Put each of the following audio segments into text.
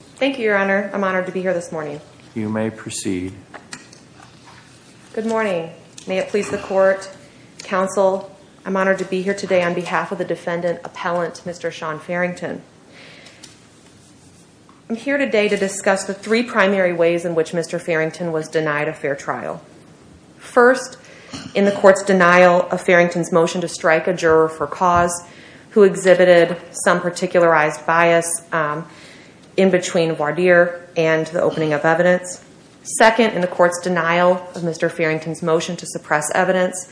Thank you, Your Honor. I'm honored to be here this morning. You may proceed. Good morning. May it please the Court, Counsel, I'm honored to be here today on behalf of the Defendant Appellant, Mr. Shaun Farrington. I'm here today to discuss the three primary ways in which Mr. Farrington was denied a fair trial. First, in the Court's denial of Farrington's motion to strike a juror for cause who exhibited some particularized bias in between Wardeer and the opening of evidence. Second, in the Court's denial of Mr. Farrington's motion to suppress evidence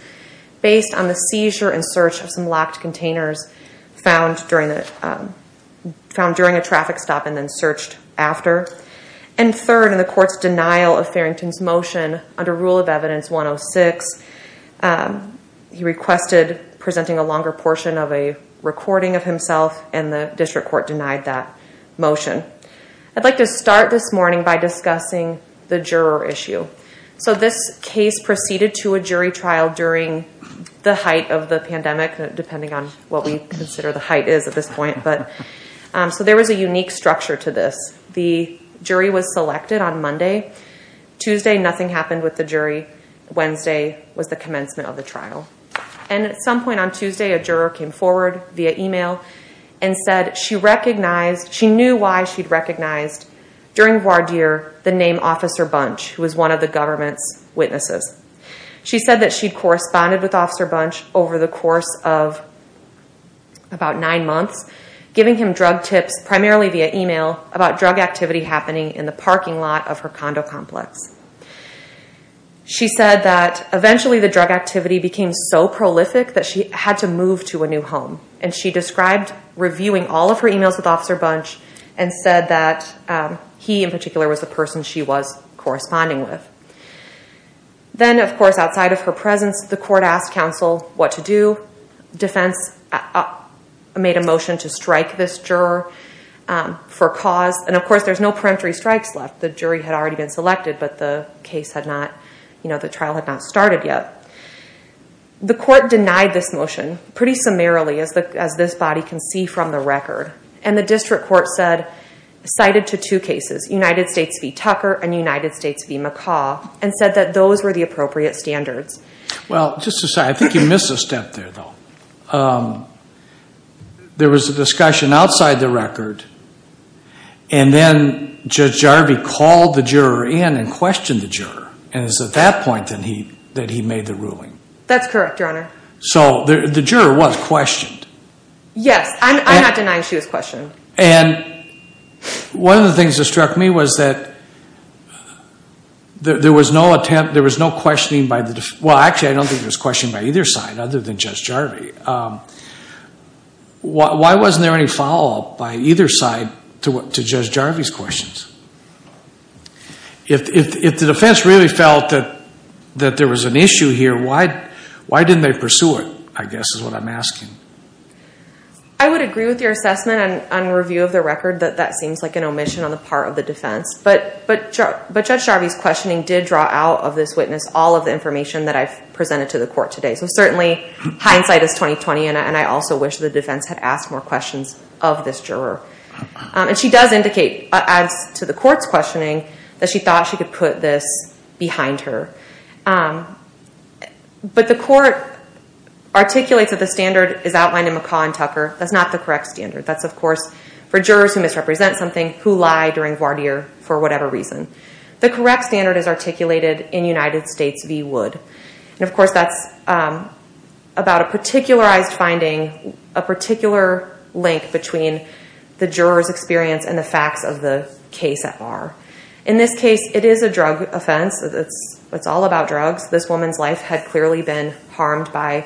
based on the seizure and search of some locked containers found during a traffic stop and then searched after. And third, in the Court's denial of Farrington's motion under Rule of Evidence 106, he requested presenting a longer portion of a recording of himself, and the District Court denied that motion. I'd like to start this morning by discussing the juror issue. So this case proceeded to a jury trial during the height of the pandemic, depending on what we consider the height is at this point. But so there was a unique structure to this. The jury was selected on Monday. Tuesday, nothing happened with the jury. Wednesday was the commencement of the trial. And at some point on Tuesday, a juror came forward via email and said she recognized, she knew why she'd recognized during Wardeer the name Officer Bunch, who was one of the government's witnesses. She said that she'd corresponded with Officer Bunch over the course of about nine months, giving him drug tips, primarily via email, about drug activity happening in the parking lot of her condo complex. She said that eventually the drug activity became so prolific that she had to move to a new home. And she described reviewing all of her emails with Officer Bunch and said that he in particular was the person she was corresponding with. Then, of course, outside of her presence, the court asked counsel what to do. Defense made a motion to strike this juror for cause. And of course, there's no peremptory strikes left. The jury had already been selected, but the jury had said that the trial had not started yet. The court denied this motion pretty summarily, as this body can see from the record. And the district court cited to two cases, United States v. Tucker and United States v. McCaw, and said that those were the appropriate standards. Well, just to say, I think you missed a step there, though. There was a discussion outside the record. And then Judge Jarvie called the juror in and questioned the juror. And it's at that point that he made the ruling. That's correct, Your Honor. So the juror was questioned. Yes. I'm not denying she was questioned. And one of the things that struck me was that there was no attempt, there was no questioning by the defense. Well, actually, I don't think there was questioning by either side other than Judge Jarvie. Why wasn't there any follow-up by either side to Judge Jarvie's questions? If the defense really felt that there was an issue here, why didn't they pursue it, I guess is what I'm asking. I would agree with your assessment on review of the record that that seems like an omission on the part of the defense. But Judge Jarvie's questioning did draw out of this witness all of the information that I've presented to the court today. So certainly, hindsight is talking. And I also wish the defense had asked more questions of this juror. And she does indicate, as to the court's questioning, that she thought she could put this behind her. But the court articulates that the standard is outlined in McCaw and Tucker. That's not the correct standard. That's, of course, for jurors who misrepresent something, who lie during voir dire for whatever reason. The correct standard is articulated in United States v. Wood. And of course, that's about a particularized finding, a particular link between the juror's experience and the facts of the case at bar. In this case, it is a drug offense. It's all about drugs. This woman's life had clearly been harmed by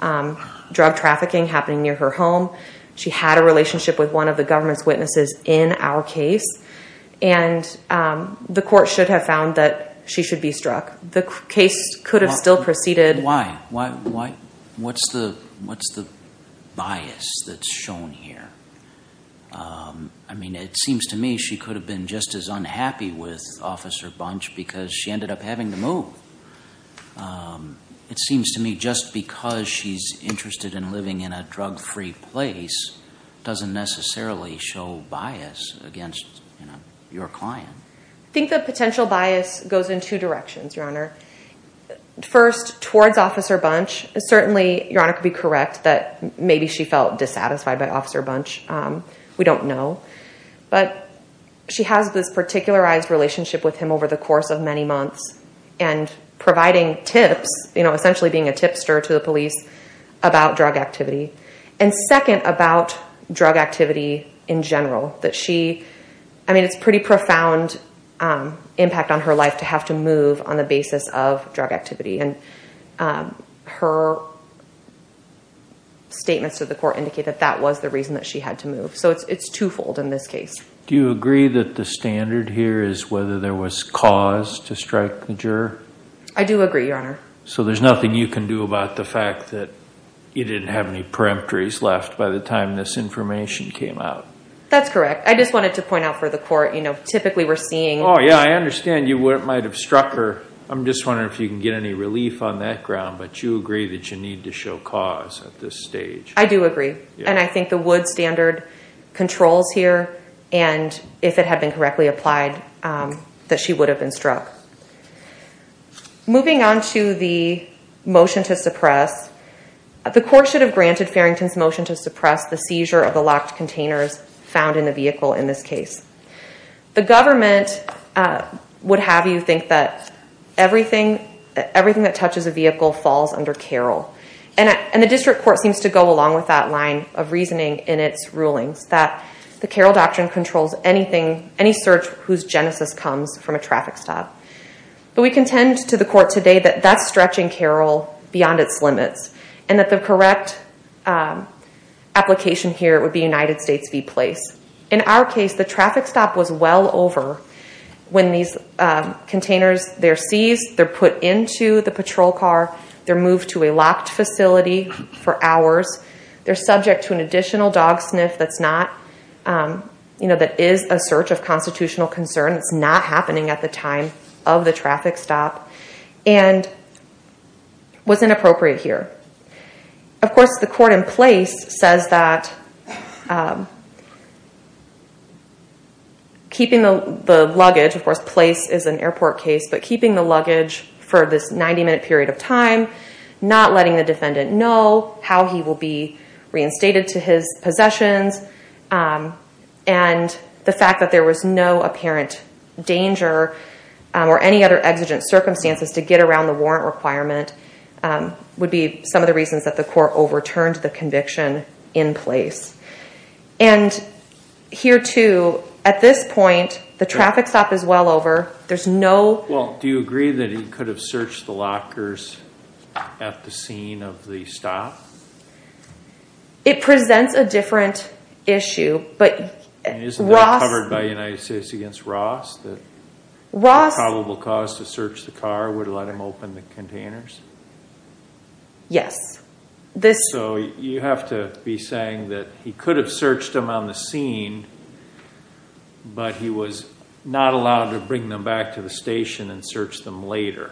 drug trafficking happening near her home. She had a relationship with one of the government's witnesses in our case. And the court should have found that she should be struck. The case could have still proceeded. Why? What's the bias that's shown here? I mean, it seems to me she could have been just as unhappy with Officer Bunch because she ended up having to move. It seems to me just because she's interested in living in a drug-free place doesn't necessarily show bias against your client. I think the potential bias goes in two directions. First, towards Officer Bunch. Certainly, Your Honor could be correct that maybe she felt dissatisfied by Officer Bunch. We don't know. But she has this particularized relationship with him over the course of many months and providing tips, essentially being a tipster to the police about drug activity. And second, about drug activity in general. That she, I mean, it's pretty profound impact on her life to have to move on the basis of drug activity. And her statements to the court indicate that that was the reason that she had to move. So it's twofold in this case. Do you agree that the standard here is whether there was cause to strike the juror? I do agree, Your Honor. So there's nothing you can do about the fact that you didn't have any peremptories left by the time this information came out? That's correct. I just wanted to point out for the court, typically we're seeing- Yeah, I understand you might have struck her. I'm just wondering if you can get any relief on that ground. But you agree that you need to show cause at this stage? I do agree. And I think the Wood standard controls here. And if it had been correctly applied, that she would have been struck. Moving on to the motion to suppress, the court should have granted Farrington's motion to suppress the seizure of the locked containers found in the vehicle in this case. The government would have you think that everything that touches a vehicle falls under CAROL. And the district court seems to go along with that line of reasoning in its rulings that the CAROL doctrine controls anything, any search whose genesis comes from a traffic stop. But we contend to the court today that that's stretching CAROL beyond its limits and that the correct application here would be United States v. Place. In our case, the traffic stop was well over. When these containers, they're seized, they're put into the patrol car, they're moved to a locked facility for hours. They're subject to an additional dog sniff that is a search of constitutional concern. It's not happening at the time of the traffic stop and was inappropriate here. Of course, the court in Place says that keeping the luggage, of course, Place is an airport case, but keeping the luggage for this 90-minute period of time, not letting the defendant know how he will be reinstated to his possessions, and the fact that there was no apparent danger or any other exigent circumstances to get around the warrant requirement would be some of the reasons that the court overturned the conviction in Place. And here, too, at this point, the traffic stop is well over. There's no... Well, do you agree that he could have searched the lockers at the scene of the stop? It presents a different issue, but... Isn't that covered by United States v. Ross? Ross... The probable cause to search the car would let him open the containers? Yes. So you have to be saying that he could have searched them on the scene, but he was not allowed to bring them back to the station and search them later.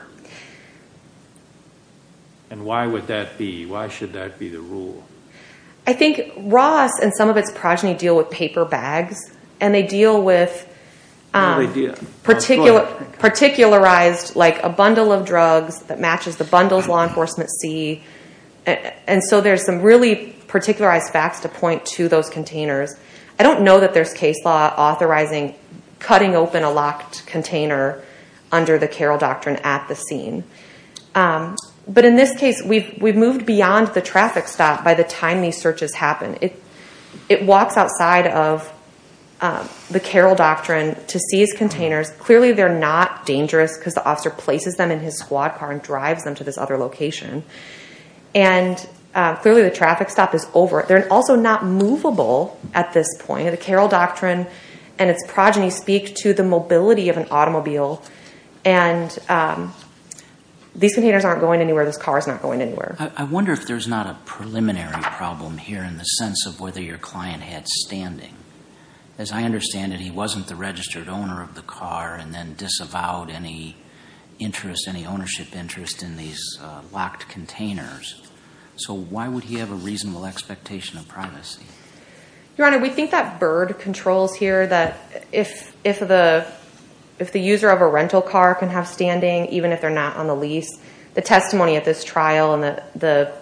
And why would that be? Why should that be the rule? I think Ross and some of its progeny deal with paper bags, and they deal with... What do they deal with? Particularized, like a bundle of drugs that matches the bundles law enforcement see. And so there's some really particularized facts to point to those containers. I don't know that there's case law authorizing cutting open a locked container under the Carroll Doctrine at the scene. But in this case, we've moved beyond the traffic stop by the time these searches happen. It walks outside of the Carroll Doctrine to seize containers. Clearly, they're not dangerous because the officer places them in his squad car and drives them to this other location. And clearly, the traffic stop is over. They're also not movable at this point. The Carroll Doctrine and its progeny speak to the mobility of an automobile. And these containers aren't going anywhere. This car is not going anywhere. I wonder if there's not a preliminary problem here in the sense of whether your client had standing. As I understand it, he wasn't the registered owner of the car and then disavowed any interest, any ownership interest in these locked containers. So why would he have a reasonable expectation of privacy? Your Honor, we think that Byrd controls here that if the user of a rental car can have standing, even if they're not on the lease, the testimony at this trial and the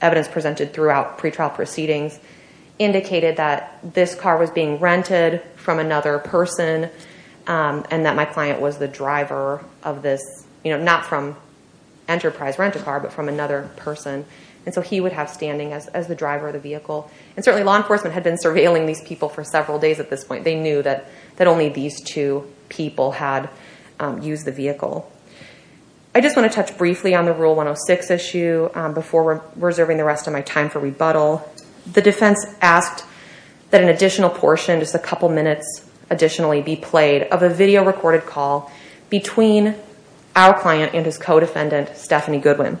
evidence presented throughout pretrial proceedings indicated that this car was being rented from another person and that my client was the driver of this, not from Enterprise Rent-A-Car, but from another person. And so he would have standing as the driver of the vehicle. And certainly, law enforcement had been surveilling these people for several days at this point. They knew that only these two people had used the vehicle. I just want to touch briefly on the Rule 106 issue before reserving the rest of my time for rebuttal. The defense asked that an additional portion, just a couple minutes additionally, be played of a video recorded call between our client and his co-defendant, Stephanie Goodwin.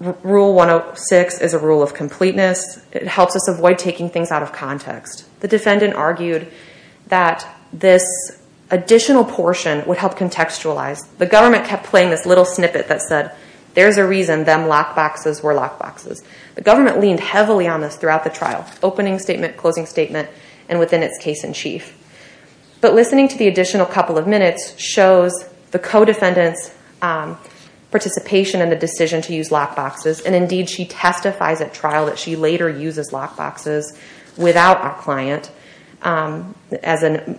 Rule 106 is a rule of completeness. It helps us avoid taking things out of context. The defendant argued that this additional portion would help contextualize. The government kept playing this little snippet that said, there's a reason them lockboxes were lockboxes. The government leaned heavily on this throughout the trial, opening statement, closing statement, and within its case in chief. But listening to the additional couple of minutes shows the co-defendant's participation in the decision to use lockboxes. And indeed, she testifies at trial that she later uses lockboxes without our client as an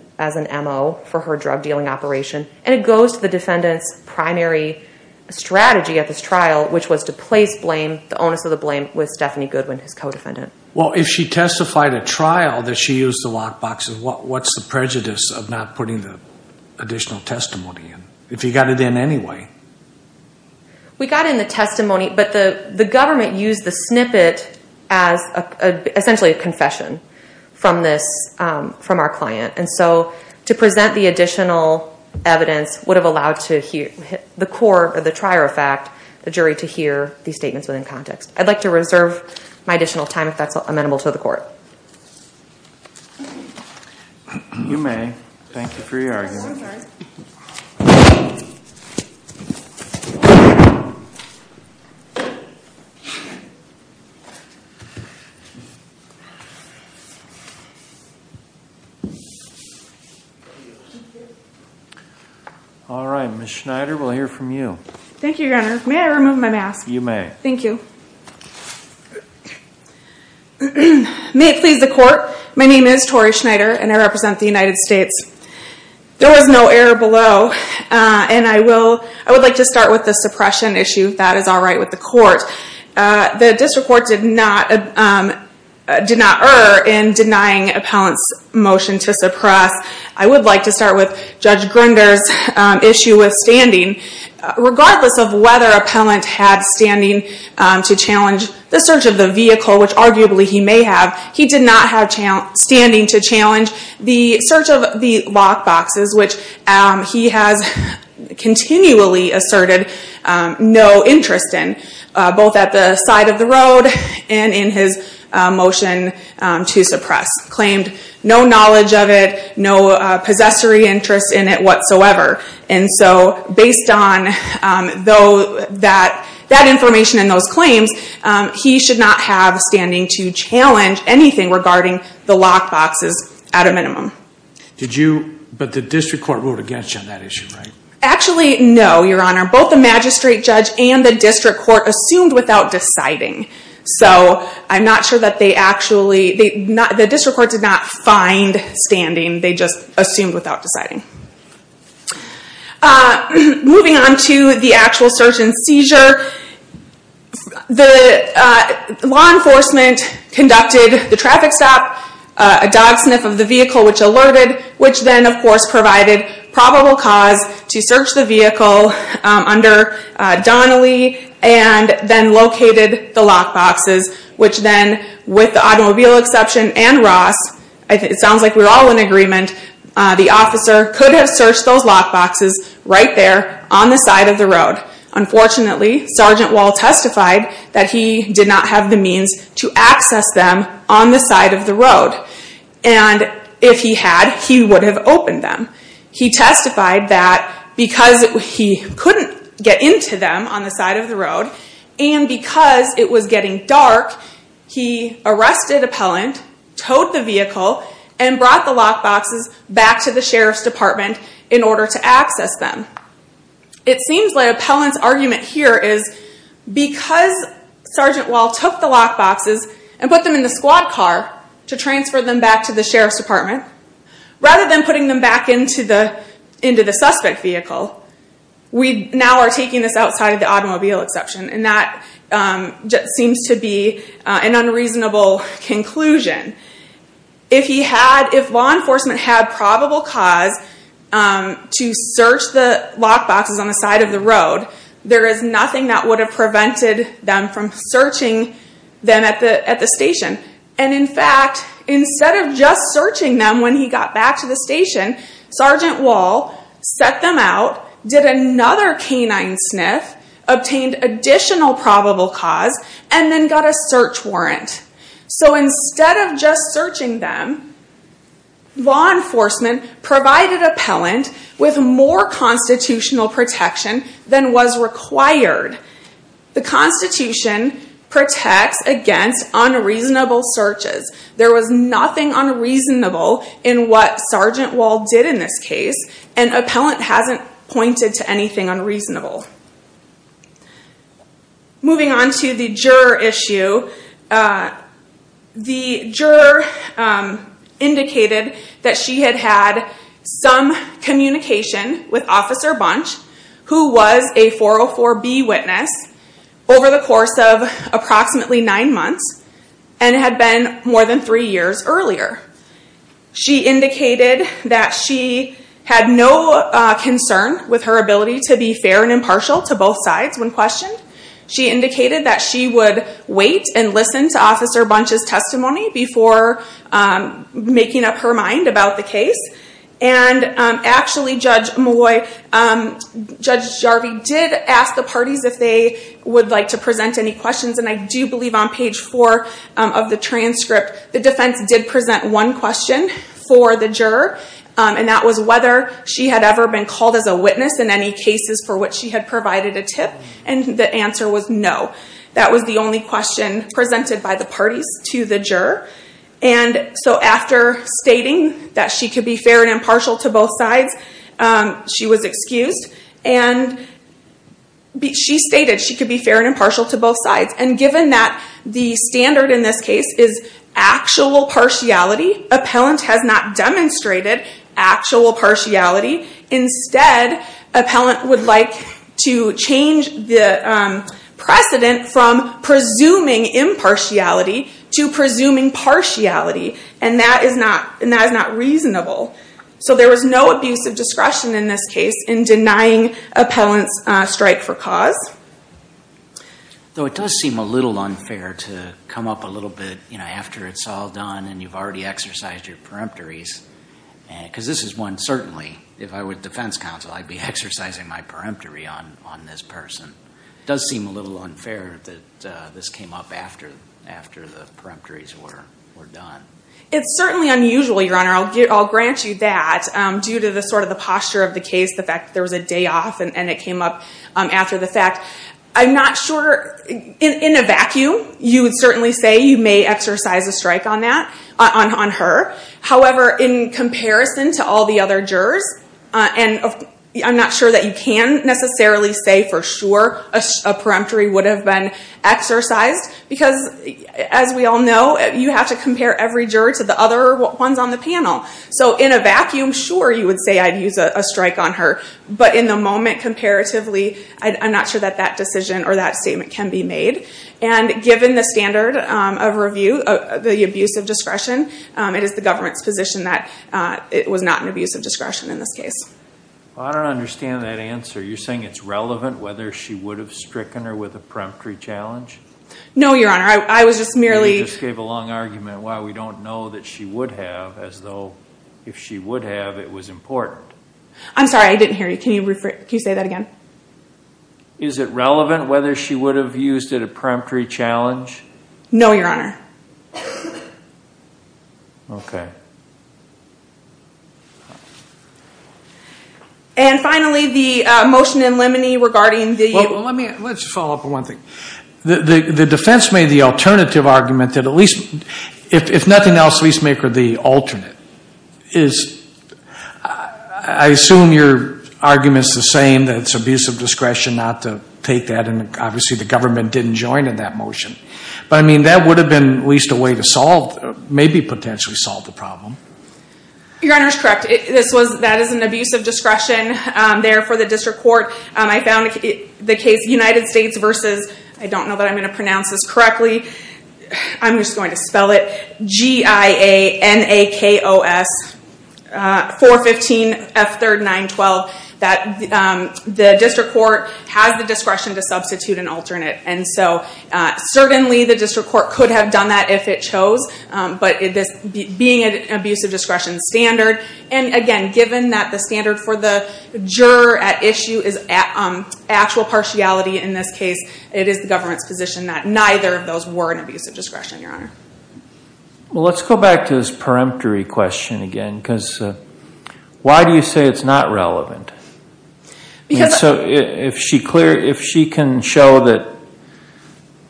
MO for her drug dealing operation. And it goes to the defendant's primary strategy at this trial, which was to place blame, the onus of the blame, with Stephanie Goodwin, his co-defendant. Well, if she testified at trial that she used the lockboxes, what's the prejudice of not putting the additional testimony in, if you got it in anyway? We got it in the testimony, but the government used the snippet as essentially a confession from our client. And so to present the additional evidence would have allowed the court, or the trier of fact, the jury, to hear these statements within context. I'd like to reserve my additional time if that's amenable to the court. You may. Thank you for your argument. I'm sorry. All right. Ms. Schneider, we'll hear from you. Thank you, Your Honor. May I remove my mask? You may. Thank you. May it please the court. My name is Tori Schneider, and I represent the United States. There was no error below, and I would like to start with the suppression issue, if that is all right with the court. The district court did not err in denying appellant's motion to suppress. I would like to start with Judge Grinder's issue with standing. Regardless of whether appellant had standing to challenge the search of the vehicle, which arguably he may have, he did not have standing to challenge the search of the lock boxes, which he has continually asserted no interest in, both at the side of the road and in his motion to suppress. Claimed no knowledge of it, no possessory interest in it whatsoever. He should not have standing to challenge anything regarding the lock boxes at a minimum. But the district court ruled against you on that issue, right? Actually, no, Your Honor. Both the magistrate judge and the district court assumed without deciding. So I'm not sure that they actually... The district court did not find standing. They just assumed without deciding. Moving on to the actual search and seizure. The law enforcement conducted the traffic stop, a dog sniff of the vehicle, which alerted, which then of course provided probable cause to search the vehicle under Donnelly and then located the lock boxes, which then, with the automobile exception and Ross, it sounds like we're all in agreement, the officer could have searched those lock boxes right there on the side of the road. Unfortunately, Sergeant Wall testified that he did not have the means to access them on the side of the road. And if he had, he would have opened them. He testified that because he couldn't get into them on the side of the road and because it was getting dark, he arrested appellant, towed the vehicle, and brought the lock boxes back to the sheriff's department in order to access them. It seems like appellant's argument here is because Sergeant Wall took the lock boxes and put them in the squad car to transfer them back to the sheriff's department, rather than putting them back into the suspect vehicle, we now are taking this outside of the automobile exception. And that seems to be an unreasonable conclusion. If law enforcement had probable cause to search the lock boxes on the side of the road, there is nothing that would have prevented them from searching them at the station. And in fact, instead of just searching them when he got back to the station, Sergeant Wall set them out, did another canine sniff, obtained additional probable cause, and then got a search warrant. So instead of just searching them, law enforcement provided appellant with more constitutional protection than was required. The Constitution protects against unreasonable searches. There was nothing unreasonable in what Sergeant Wall did in this case, and appellant hasn't pointed to anything unreasonable. Moving on to the juror issue. The juror indicated that she had had some communication with Officer Bunch, who was a 404B witness, over the course of approximately nine months, and had been more than three years earlier. She indicated that she had no concern with her ability to be fair and impartial to both sides when questioned. She indicated that she would wait and listen to Officer Bunch's testimony before making up her mind about the case. And actually, Judge Jarvie did ask the parties if they would like to present any questions, and I do believe on page four of the transcript, the defense did present one question for the juror, and that was whether she had ever been called as a witness in any cases for which she had provided a tip, and the answer was no. That was the only question presented by the parties to the juror. And so after stating that she could be fair and impartial to both sides, she was excused. She stated she could be fair and impartial to both sides, and given that the standard in this case is actual partiality, appellant has not demonstrated actual partiality. Instead, appellant would like to change the precedent from presuming impartiality to presuming partiality, and that is not reasonable. So there was no abuse of discretion in this case in denying appellant's strike for cause. Though it does seem a little unfair to come up a little bit, you know, after it's all done and you've already exercised your peremptories, because this is one certainly, if I were defense counsel, I'd be exercising my peremptory on this person. It does seem a little unfair that this came up after the peremptories were done. It's certainly unusual, Your Honor. I'll grant you that, due to the sort of the posture of the case, the fact that there was a day off and it came up after the fact. I'm not sure, in a vacuum, you would certainly say you may exercise a strike on that, on her. However, in comparison to all the other jurors, and I'm not sure that you can necessarily say for sure a peremptory would have been exercised, because, as we all know, you have to compare every juror to the other ones on the panel. So in a vacuum, sure, you would say I'd use a strike on her. But in the moment, comparatively, I'm not sure that that decision or that statement can be made. And given the standard of review, the abuse of discretion, it is the government's position that it was not an abuse of discretion in this case. I don't understand that answer. Are you saying it's relevant whether she would have stricken her with a peremptory challenge? No, Your Honor. I was just merely— You just gave a long argument why we don't know that she would have, as though if she would have, it was important. I'm sorry. I didn't hear you. Can you say that again? Is it relevant whether she would have used it a peremptory challenge? No, Your Honor. Okay. Okay. And finally, the motion in limine regarding the— Well, let's follow up on one thing. The defense made the alternative argument that at least, if nothing else, at least make her the alternate. I assume your argument is the same, that it's abuse of discretion not to take that, and obviously the government didn't join in that motion. But, I mean, that would have been at least a way to solve— maybe potentially solve the problem. Your Honor is correct. That is an abuse of discretion there for the district court. I found the case United States versus— I don't know that I'm going to pronounce this correctly. I'm just going to spell it. G-I-A-N-A-K-O-S-415-F-3-9-12. The district court has the discretion to substitute an alternate. And so certainly the district court could have done that if it chose. But being an abuse of discretion standard, and again, given that the standard for the juror at issue is actual partiality in this case, it is the government's position that neither of those were an abuse of discretion, Your Honor. Well, let's go back to this peremptory question again, because why do you say it's not relevant? I mean, so if she can show that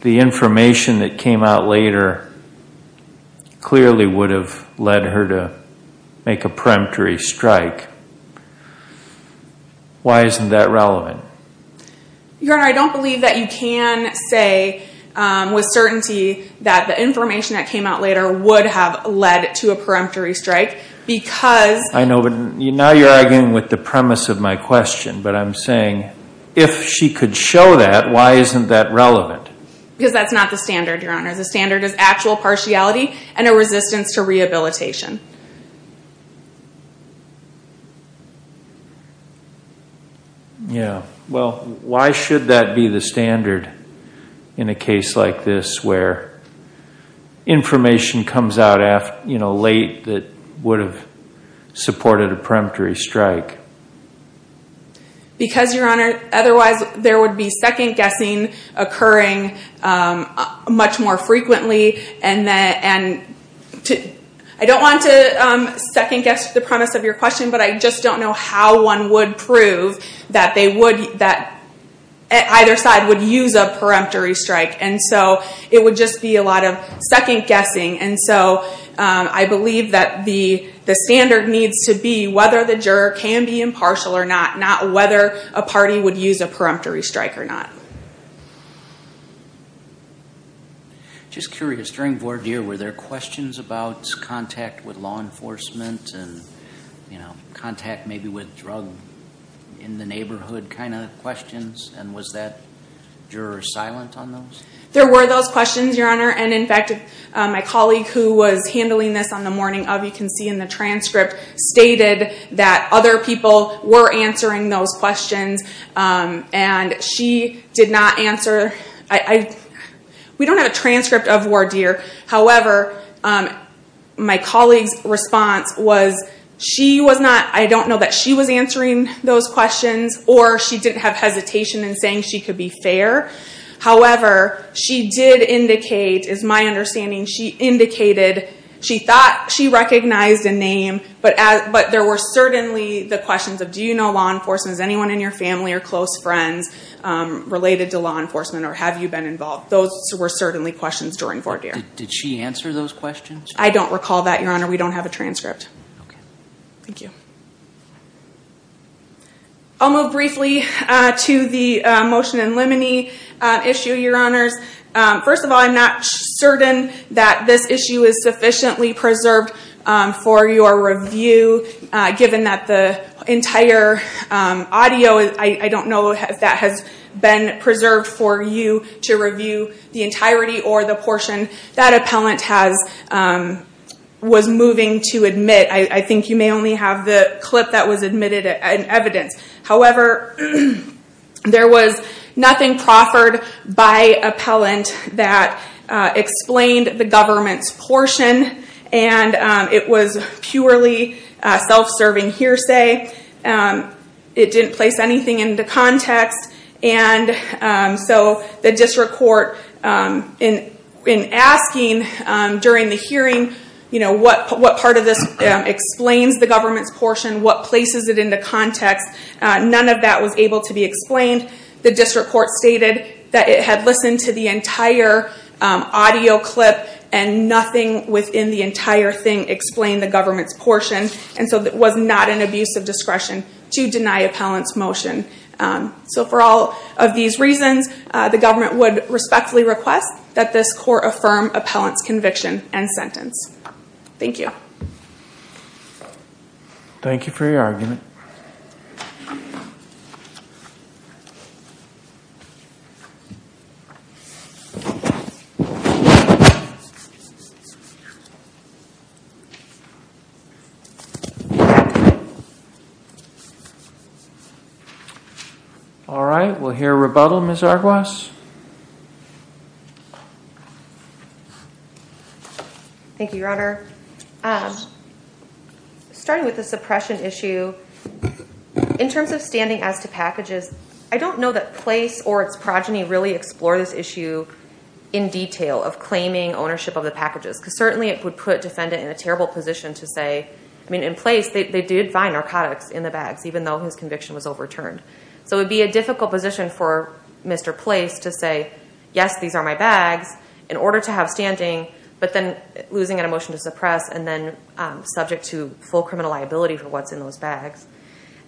the information that came out later clearly would have led her to make a peremptory strike, why isn't that relevant? Your Honor, I don't believe that you can say with certainty that the information that came out later would have led to a peremptory strike because— I know, but now you're arguing with the premise of my question, but I'm saying if she could show that, why isn't that relevant? Because that's not the standard, Your Honor. The standard is actual partiality and a resistance to rehabilitation. Yeah. Well, why should that be the standard in a case like this where information comes out late that would have supported a peremptory strike? Because, Your Honor, otherwise there would be second-guessing occurring much more frequently, and I don't want to second-guess the premise of your question, but I just don't know how one would prove that either side would use a peremptory strike. And so it would just be a lot of second-guessing. And so I believe that the standard needs to be whether the juror can be impartial or not, not whether a party would use a peremptory strike or not. Just curious. During voir dire, were there questions about contact with law enforcement and contact maybe with drug in the neighborhood kind of questions, and was that juror silent on those? There were those questions, Your Honor. And, in fact, my colleague who was handling this on the morning of, you can see in the transcript, stated that other people were answering those questions, and she did not answer. We don't have a transcript of voir dire. However, my colleague's response was she was not, I don't know that she was answering those questions, or she didn't have hesitation in saying she could be fair. However, she did indicate, is my understanding, she indicated she thought she recognized a name, but there were certainly the questions of do you know law enforcement, is anyone in your family or close friends related to law enforcement, or have you been involved? Those were certainly questions during voir dire. Did she answer those questions? I don't recall that, Your Honor. We don't have a transcript. Thank you. I'll move briefly to the motion in limine issue, Your Honors. First of all, I'm not certain that this issue is sufficiently preserved for your review, given that the entire audio, I don't know if that has been preserved for you to review the entirety or the portion. That appellant was moving to admit. I think you may only have the clip that was admitted in evidence. However, there was nothing proffered by appellant that explained the government's portion, and it was purely self-serving hearsay. It didn't place anything into context. The district court, in asking during the hearing what part of this explains the government's portion, what places it into context, none of that was able to be explained. The district court stated that it had listened to the entire audio clip and nothing within the entire thing explained the government's portion. It was not an abuse of discretion to deny appellant's motion. For all of these reasons, the government would respectfully request that this court affirm appellant's conviction and sentence. Thank you. Thank you for your argument. All right, we'll hear rebuttal, Ms. Arguas. Thank you, Your Honor. Starting with the suppression issue, in terms of standing as to packages, I don't know that place or its progeny really explore this issue in detail of claiming ownership of the packages, because certainly it would put defendant in a terrible position to say, I mean, in place, they did find narcotics in the bags, even though his conviction was overturned. So it would be a difficult position for Mr. Place to say, yes, these are my bags, in order to have standing, but then losing an emotion to suppress and then subject to full criminal liability for what's in those bags.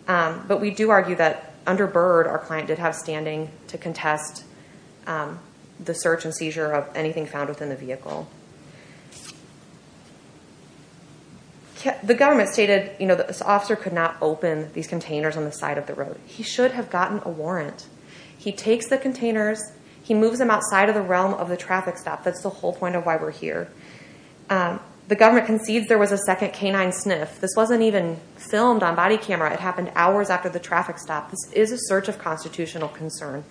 But we do argue that under Byrd, our client did have standing to contest the search and seizure of anything found within the vehicle. The government stated that this officer could not open these containers on the side of the road. He should have gotten a warrant. He takes the containers, he moves them outside of the realm of the traffic stop. That's the whole point of why we're here. The government concedes there was a second canine sniff. This wasn't even filmed on body camera. It happened hours after the traffic stop. This is a search of constitutional concern.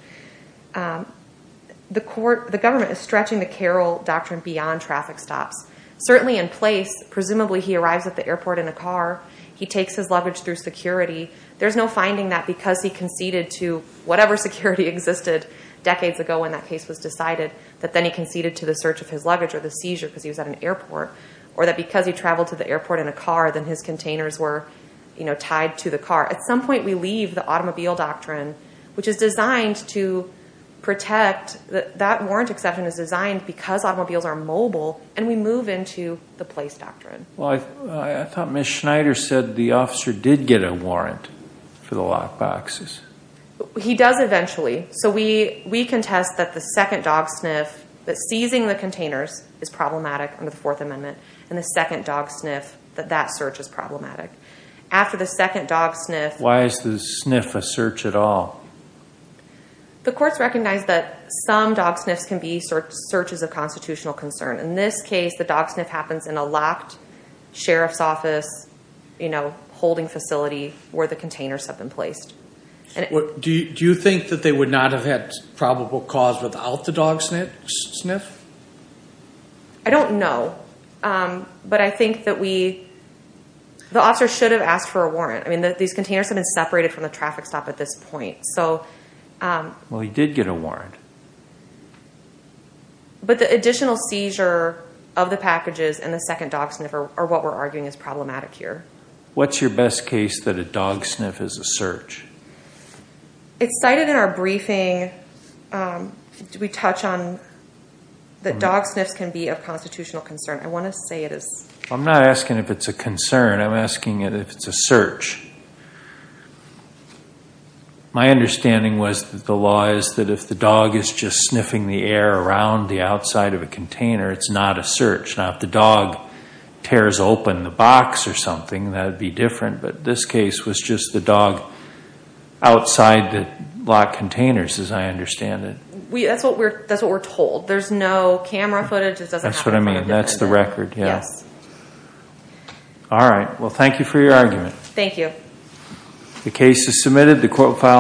The government is stretching the Carroll Doctrine beyond traffic stops. Certainly in place, presumably he arrives at the airport in a car. He takes his luggage through security. There's no finding that because he conceded to whatever security existed decades ago when that case was decided, that then he conceded to the search of his luggage or the seizure because he was at an airport, or that because he traveled to the airport in a car, then his containers were tied to the car. At some point, we leave the automobile doctrine, which is designed to protect. That warrant exception is designed because automobiles are mobile, and we move into the place doctrine. I thought Ms. Schneider said the officer did get a warrant for the lock boxes. He does eventually. We contest that the second dog sniff, that seizing the containers, is problematic under the Fourth Amendment, and the second dog sniff, that that search is problematic. Why is the sniff a search at all? The courts recognize that some dog sniffs can be searches of constitutional concern. In this case, the dog sniff happens in a locked sheriff's office holding facility where the containers have been placed. Do you think that they would not have had probable cause without the dog sniff? I don't know. But I think that we, the officer should have asked for a warrant. These containers have been separated from the traffic stop at this point. Well, he did get a warrant. But the additional seizure of the packages and the second dog sniff are what we're arguing is problematic here. What's your best case that a dog sniff is a search? It's cited in our briefing. We touch on that dog sniffs can be of constitutional concern. I'm not asking if it's a concern. I'm asking if it's a search. My understanding was that the law is that if the dog is just sniffing the air around the outside of a container, it's not a search. Now, if the dog tears open the box or something, that would be different. But this case was just the dog outside the locked containers, as I understand it. That's what we're told. There's no camera footage. That's what I mean. That's the record. All right. Well, thank you for your argument. Thank you.